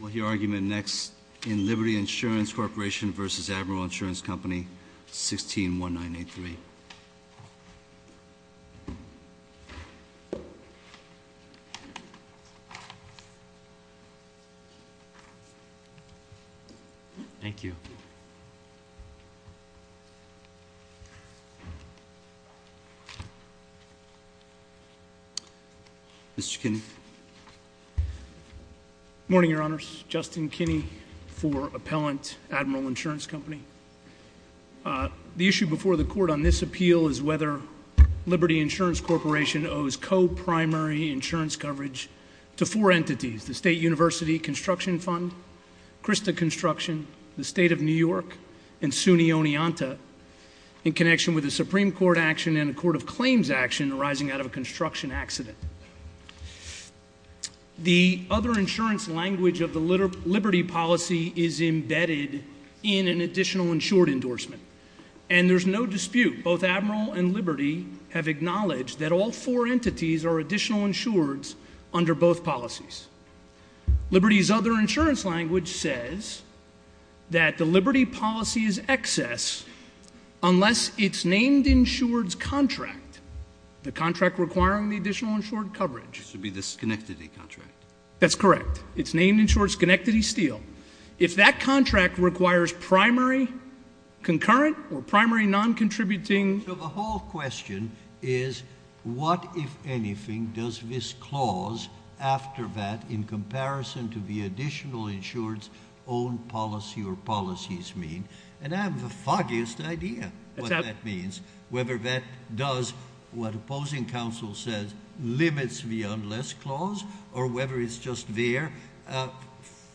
We'll hear argument next in Liberty Insurance Corporation versus Admiral Insurance Company, 161983. Thank you. Mr. Kinney. Good morning, your honors. Justin Kinney for Appellant, Admiral Insurance Company. The issue before the court on this appeal is whether Liberty Insurance Corporation owes co-primary insurance coverage to four entities. The State University Construction Fund, Krista Construction, the State of New York, and SUNY Oneonta in connection with a Supreme Court action and a Court of Claims action arising out of a construction accident. The other insurance language of the Liberty policy is embedded in an additional insured endorsement. And there's no dispute, both Admiral and Liberty have acknowledged that all four entities are additional insureds under both policies. Liberty's other insurance language says that the Liberty policy is excess unless it's named insured's contract, the contract requiring the additional insured coverage. Which would be the Schenectady contract. That's correct. It's named insured's Schenectady Steel. If that contract requires primary concurrent or primary non-contributing- So the whole question is what, if anything, does this clause after that in comparison to the additional insured's own policy or policies mean, and I have the foggiest idea what that means. Whether that does what opposing counsel says limits the unless clause or whether it's just there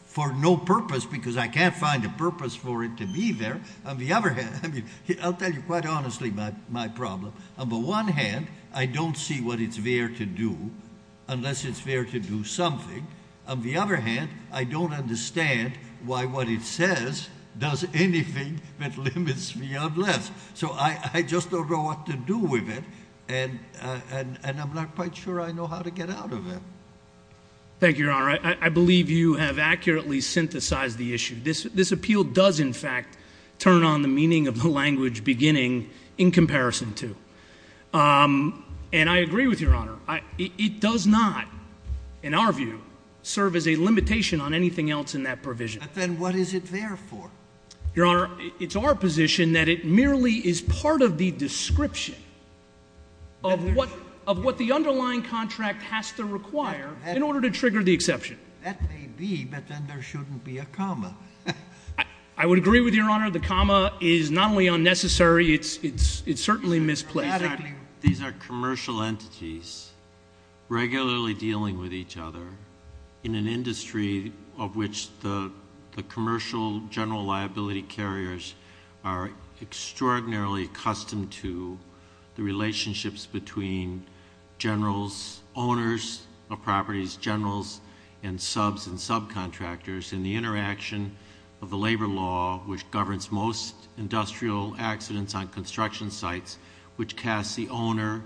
for no purpose because I can't find a purpose for it to be there. On the other hand, I'll tell you quite honestly my problem. On the one hand, I don't see what it's there to do unless it's there to do something. On the other hand, I don't understand why what it says does anything that limits the unless. So I just don't know what to do with it, and I'm not quite sure I know how to get out of it. Thank you, Your Honor. I believe you have accurately synthesized the issue. This appeal does in fact turn on the meaning of the language beginning in comparison to. And I agree with Your Honor. It does not, in our view, serve as a limitation on anything else in that provision. But then what is it there for? Your Honor, it's our position that it merely is part of the description of what the underlying contract has to require in order to trigger the exception. That may be, but then there shouldn't be a comma. I would agree with Your Honor. The comma is not only unnecessary, it's certainly misplaced. These are commercial entities regularly dealing with each other in an industry of which the commercial general liability carriers are extraordinarily accustomed to the relationships between generals, owners of properties, generals, and subs and subcontractors. And the interaction of the labor law, which governs most industrial accidents on construction sites, which casts the owner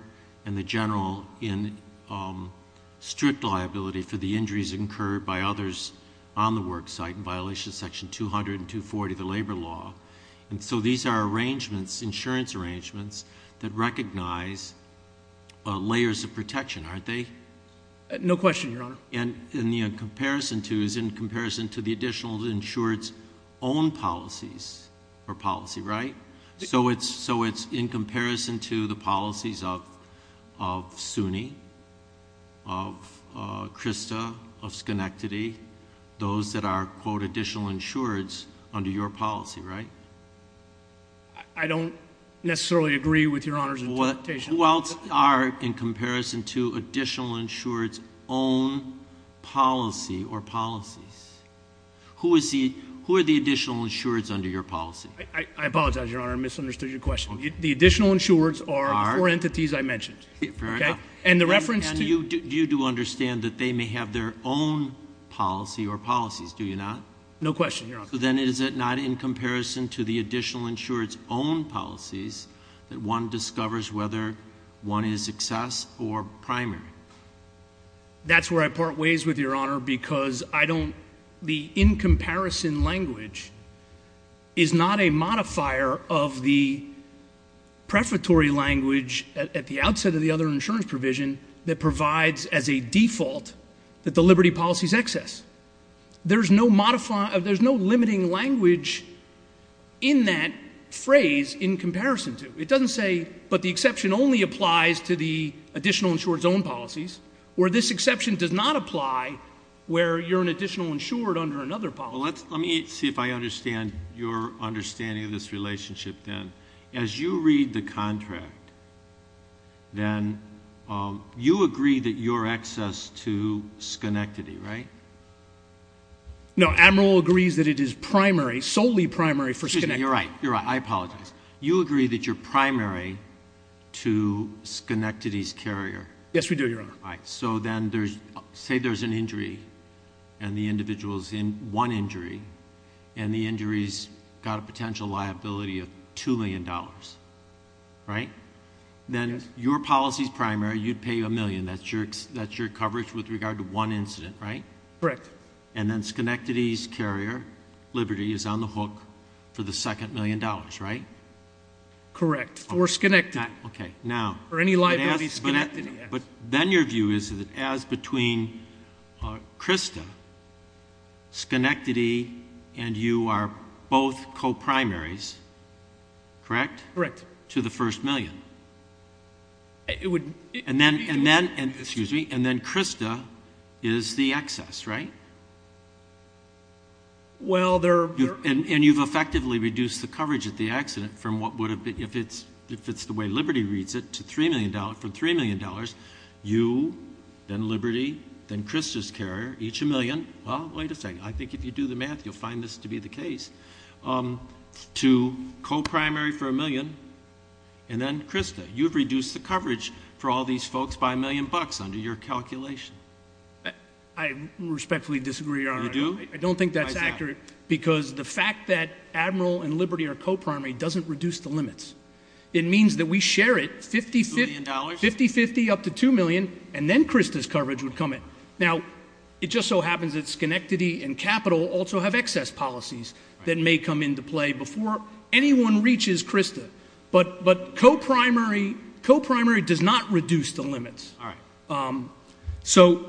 and the general in strict liability for the injuries incurred by others on the work site in violation of section 200 and 240 of the labor law. And so these are arrangements, insurance arrangements, that recognize layers of protection, aren't they? No question, Your Honor. And in comparison to, is in comparison to the additional insured's own policies or policy, right? So it's in comparison to the policies of SUNY, of CRISTA, of Schenectady, those that are, quote, additional insured's under your policy, right? I don't necessarily agree with Your Honor's interpretation. Who else are in comparison to additional insured's own policy or policies? Who are the additional insured's under your policy? I apologize, Your Honor, I misunderstood your question. The additional insured's are the four entities I mentioned, okay? And the reference to- And you do understand that they may have their own policy or policies, do you not? No question, Your Honor. So then is it not in comparison to the additional insured's own policies that one discovers whether one is excess or primary? That's where I part ways with Your Honor because I don't, the in comparison language is not a modifier of the prefatory language at the outset of the other insurance provision that provides as a default that the liberty policy's excess. There's no limiting language in that phrase in comparison to. It doesn't say, but the exception only applies to the additional insured's own policies. Where this exception does not apply, where you're an additional insured under another policy. Let me see if I understand your understanding of this relationship then. As you read the contract, then you agree that you're excess to Schenectady, right? No, Admiral agrees that it is primary, solely primary for Schenectady. You're right, you're right, I apologize. You agree that you're primary to Schenectady's carrier. Yes, we do, Your Honor. All right, so then say there's an injury, and the individual's in one injury, and the injury's got a potential liability of $2 million, right? Then your policy's primary, you'd pay a million. That's your coverage with regard to one incident, right? Correct. And then Schenectady's carrier, Liberty, is on the hook for the second million dollars, right? Correct, for Schenectady. Okay, now. For any liability Schenectady has. But then your view is that as between Krista, Schenectady, and you are both co-primaries, correct? Correct. To the first million. It would- And then, excuse me, and then Krista is the excess, right? Well, there- And you've effectively reduced the coverage of the accident from what would have been, if it's the way Liberty reads it, to $3 million, from $3 million, you, then Liberty, then Krista's carrier, each a million, well, wait a second, I think if you do the math, you'll find this to be the case, to co-primary for a million, and then Krista. You've reduced the coverage for all these folks by a million bucks under your calculation. I respectfully disagree, Your Honor. You do? I don't think that's accurate. Because the fact that Admiral and Liberty are co-primary doesn't reduce the limits. It means that we share it, $50, 50, up to $2 million, and then Krista's coverage would come in. Now, it just so happens that Schenectady and Capital also have excess policies that may come into play before anyone reaches Krista. But co-primary does not reduce the limits. All right. So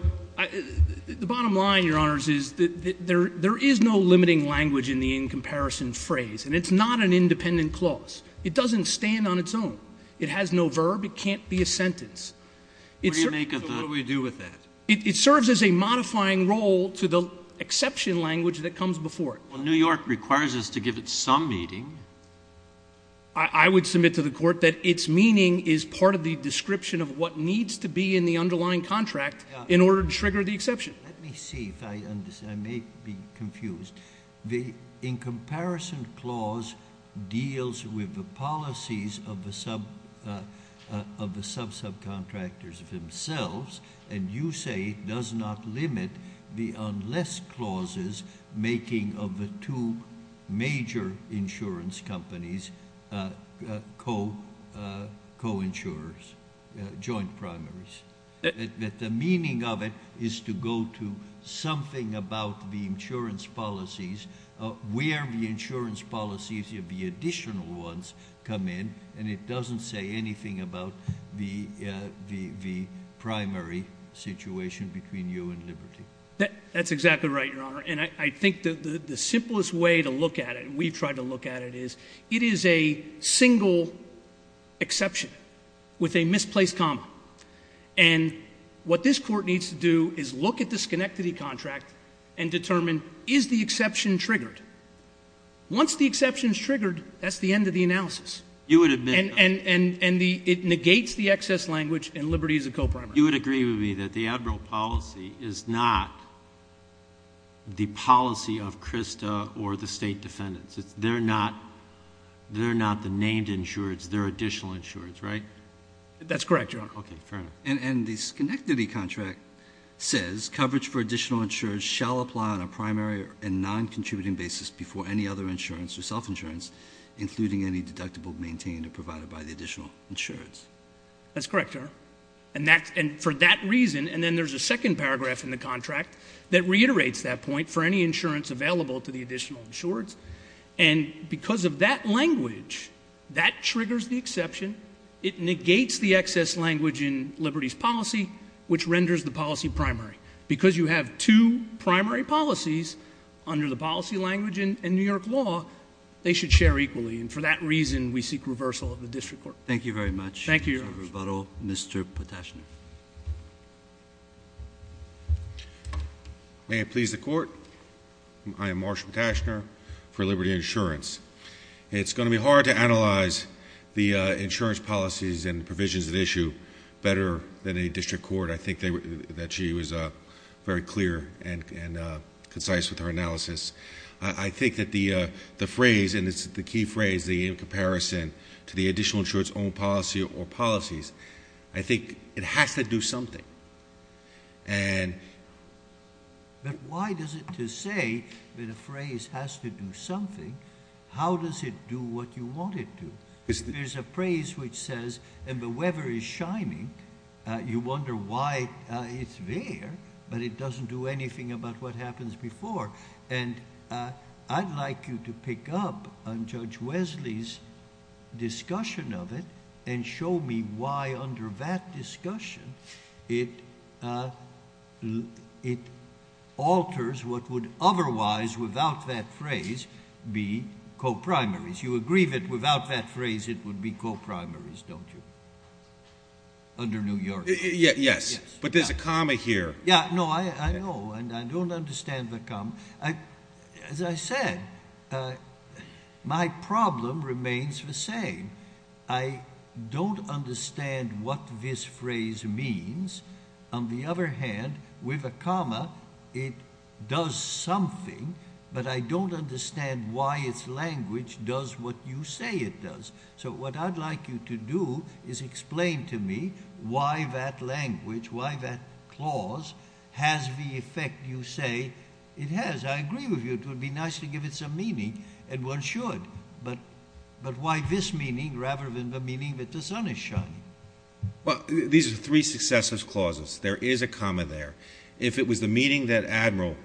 the bottom line, Your Honors, is that there is no limiting language in the in-comparison phrase, and it's not an independent clause. It doesn't stand on its own. It has no verb. It can't be a sentence. What do you make of the- So what do we do with that? It serves as a modifying role to the exception language that comes before it. Well, New York requires us to give it some meaning. I would submit to the court that its meaning is part of the description of what needs to be in the underlying contract in order to trigger the exception. Let me see if I understand. I may be confused. The in-comparison clause deals with the policies of the sub-subcontractors themselves, and you say it does not limit the unless clauses making of the two major insurance companies co-insurers, joint primaries. That the meaning of it is to go to something about the insurance policies, where the insurance policies of the additional ones come in, and it doesn't say anything about the primary situation between you and Liberty. That's exactly right, Your Honor, and I think the simplest way to look at it, and we've tried to look at it, is it is a single exception with a misplaced comma, and what this court needs to do is look at the Schenectady contract and determine, is the exception triggered? Once the exception's triggered, that's the end of the analysis. You would admit that. And it negates the excess language, and Liberty is a co-primary. You would agree with me that the Admiral policy is not the policy of CRSTA or the state defendants. They're not the named insurers, they're additional insurers, right? That's correct, Your Honor. Okay, fair enough. And the Schenectady contract says, coverage for additional insurance shall apply on a primary and non-contributing basis before any other insurance or self-insurance, including any deductible maintained or provided by the additional insurance. That's correct, Your Honor. And for that reason, and then there's a second paragraph in the contract that reiterates that point, for any insurance available to the additional insurers. And because of that language, that triggers the exception. It negates the excess language in Liberty's policy, which renders the policy primary. Because you have two primary policies under the policy language in New York law, they should share equally. And for that reason, we seek reversal of the district court. Thank you very much. Thank you, Your Honor. For rebuttal, Mr. Patashner. May it please the court, I am Marsh Patashner for Liberty Insurance. It's going to be hard to analyze the insurance policies and provisions at issue better than a district court. I think that she was very clear and concise with her analysis. I think that the phrase, and it's the key phrase, the in comparison to the additional insurance own policy or policies. I think it has to do something. But why does it to say that a phrase has to do something, how does it do what you want it to? There's a phrase which says, and the weather is shining, you wonder why it's there. But it doesn't do anything about what happens before. And I'd like you to pick up on Judge Wesley's discussion of it and show me why under that discussion, it alters what would otherwise, without that phrase, be co-primaries. You agree that without that phrase, it would be co-primaries, don't you? Under New York. Yes, but there's a comma here. Yeah, no, I know, and I don't understand the comma. As I said, my problem remains the same. I don't understand what this phrase means. On the other hand, with a comma, it does something, but I don't understand why its language does what you say it does. So what I'd like you to do is explain to me why that language, why that clause has the effect you say it has. I agree with you, it would be nice to give it some meaning, and one should. But why this meaning rather than the meaning that the sun is shining? Well, these are three successive clauses. There is a comma there. If it was the meaning that Admiral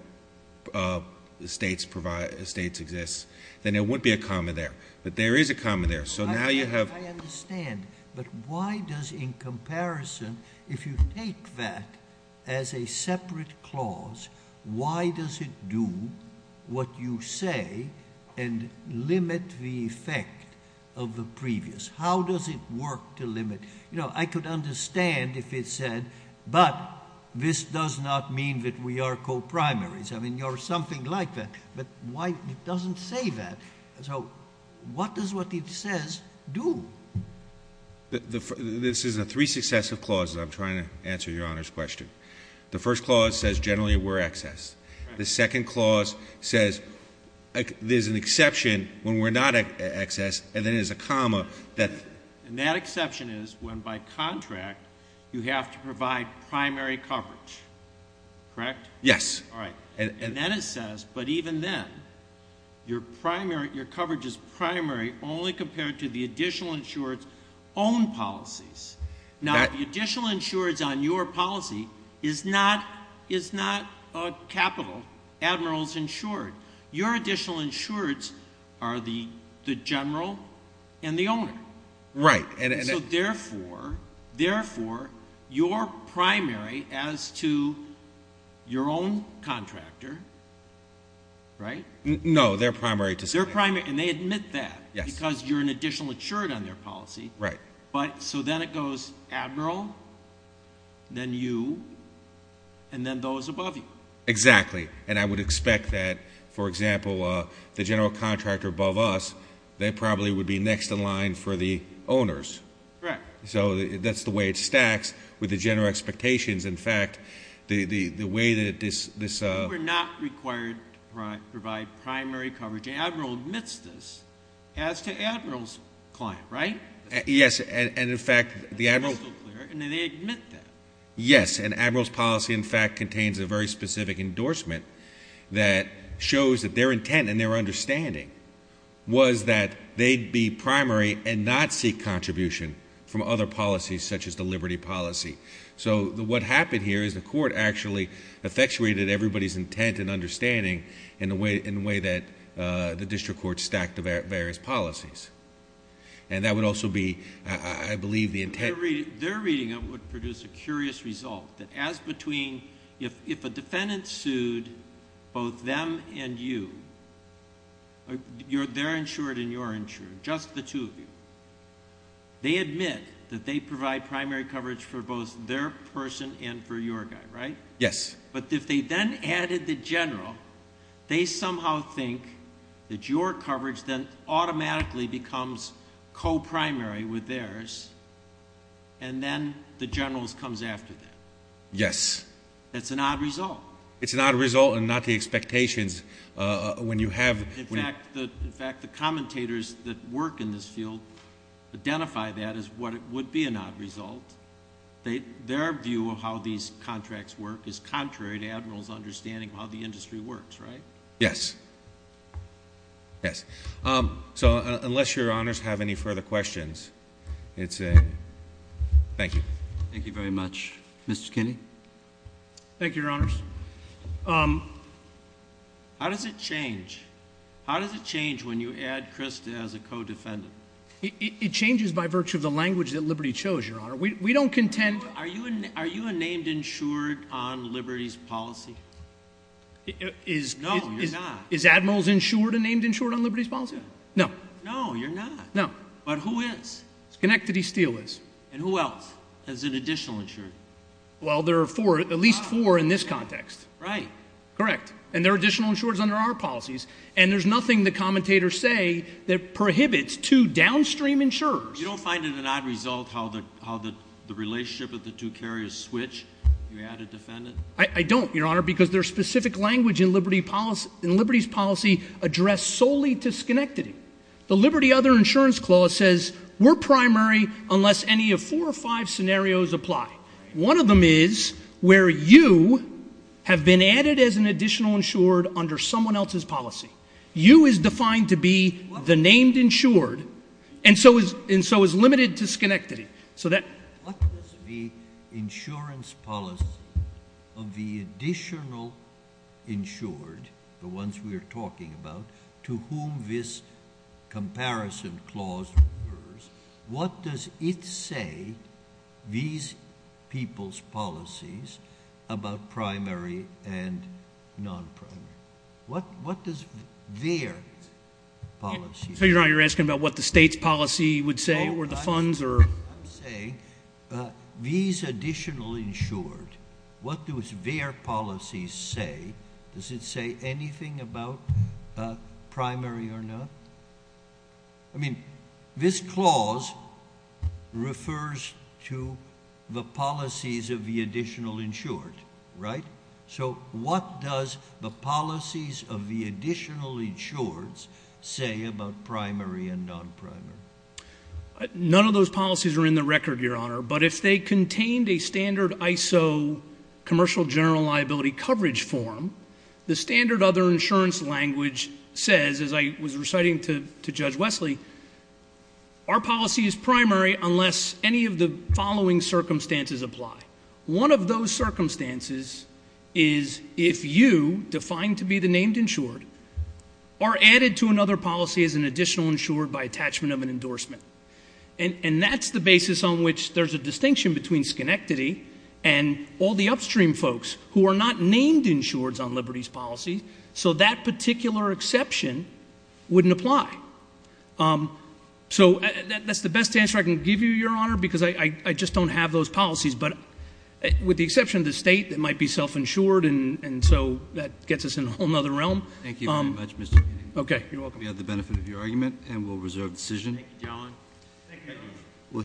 Estates exists, then there wouldn't be a comma there, but there is a comma there. So now you have- But why does in comparison, if you take that as a separate clause, why does it do what you say and limit the effect of the previous? How does it work to limit? You know, I could understand if it said, but this does not mean that we are co-primaries. I mean, you're something like that, but why it doesn't say that? So what does what it says do? This is a three successive clauses. I'm trying to answer your Honor's question. The first clause says generally we're excess. The second clause says there's an exception when we're not excess, and then there's a comma that- And that exception is when by contract, you have to provide primary coverage, correct? Yes. All right. And then it says, but even then, your coverage is primary only compared to the additional insured's own policies. Now, the additional insured's on your policy is not capital, Admiral's insured. Your additional insured's are the general and the owner. Right. So therefore, your primary as to your own contractor, right? No, their primary to- Their primary, and they admit that because you're an additional insured on their policy. Right. But so then it goes, Admiral, then you, and then those above you. Exactly. And I would expect that, for example, the general contractor above us, they probably would be next in line for the owners. Correct. So that's the way it stacks with the general expectations. In fact, the way that this- We're not required to provide primary coverage. Admiral admits this as to Admiral's client, right? Yes, and in fact, the Admiral- That's crystal clear, and then they admit that. Yes, and Admiral's policy, in fact, contains a very specific endorsement that shows that their intent and their understanding was that they'd be primary and not seek contribution from other policies such as the liberty policy. So what happened here is the court actually effectuated everybody's intent and understanding in the way that the district court stacked the various policies. And that would also be, I believe, the intent- Their reading of it would produce a curious result that as between, if a defendant sued both them and you, they're insured and you're insured, just the two of you, they admit that they provide primary coverage for both their person and for your guy, right? Yes. But if they then added the general, they somehow think that your coverage then automatically becomes co-primary with theirs, and then the general comes after them. Yes. That's an odd result. It's an odd result and not the expectations when you have- In fact, the commentators that work in this field identify that as what would be an odd result. Their view of how these contracts work is contrary to Admiral's understanding of how the industry works, right? Yes. Yes. So unless your honors have any further questions, it's a, thank you. Thank you very much. Mr. Kinney? Thank you, your honors. How does it change? How does it change when you add Chris as a co-defendant? It changes by virtue of the language that Liberty chose, your honor. We don't contend- Are you a named insured on Liberty's policy? No, you're not. Is Admiral's insured a named insured on Liberty's policy? No. No, you're not. No. But who is? Schenectady Steel is. And who else is an additional insured? Well, there are four, at least four in this context. Right. Correct. And there are additional insureds under our policies. And there's nothing the commentators say that prohibits two downstream insurers. I don't, your honor. Because there's specific language in Liberty's policy addressed solely to Schenectady. The Liberty Other Insurance Clause says, we're primary unless any of four or five scenarios apply. One of them is where you have been added as an additional insured under someone else's policy. You is defined to be the named insured, and so is limited to Schenectady. So that- What does the insurance policy of the additional insured, the ones we are talking about, to whom this comparison clause refers, what does it say, these people's policies, about primary and non-primary? What does their policy say? So you're asking about what the state's policy would say, or the funds, or- I'm saying, these additional insured, what do their policies say? Does it say anything about primary or not? I mean, this clause refers to the policies of the additional insured, right? So what does the policies of the additional insureds say about primary and non-primary? None of those policies are in the record, Your Honor, but if they contained a standard ISO commercial general liability coverage form, the standard other insurance language says, as I was reciting to Judge Wesley, our policy is primary unless any of the following circumstances apply. One of those circumstances is if you, defined to be the named insured, are added to another policy as an additional insured by attachment of an endorsement. And that's the basis on which there's a distinction between Schenectady and all the upstream folks who are not named insureds on liberties policies, so that particular exception wouldn't apply. So that's the best answer I can give you, Your Honor, because I just don't have those policies. But with the exception of the state, it might be self-insured, and so that gets us in a whole other realm. Thank you very much, Mr. Kennedy. Okay, you're welcome. We have the benefit of your argument, and we'll reserve decision. Thank you, John. Thank you.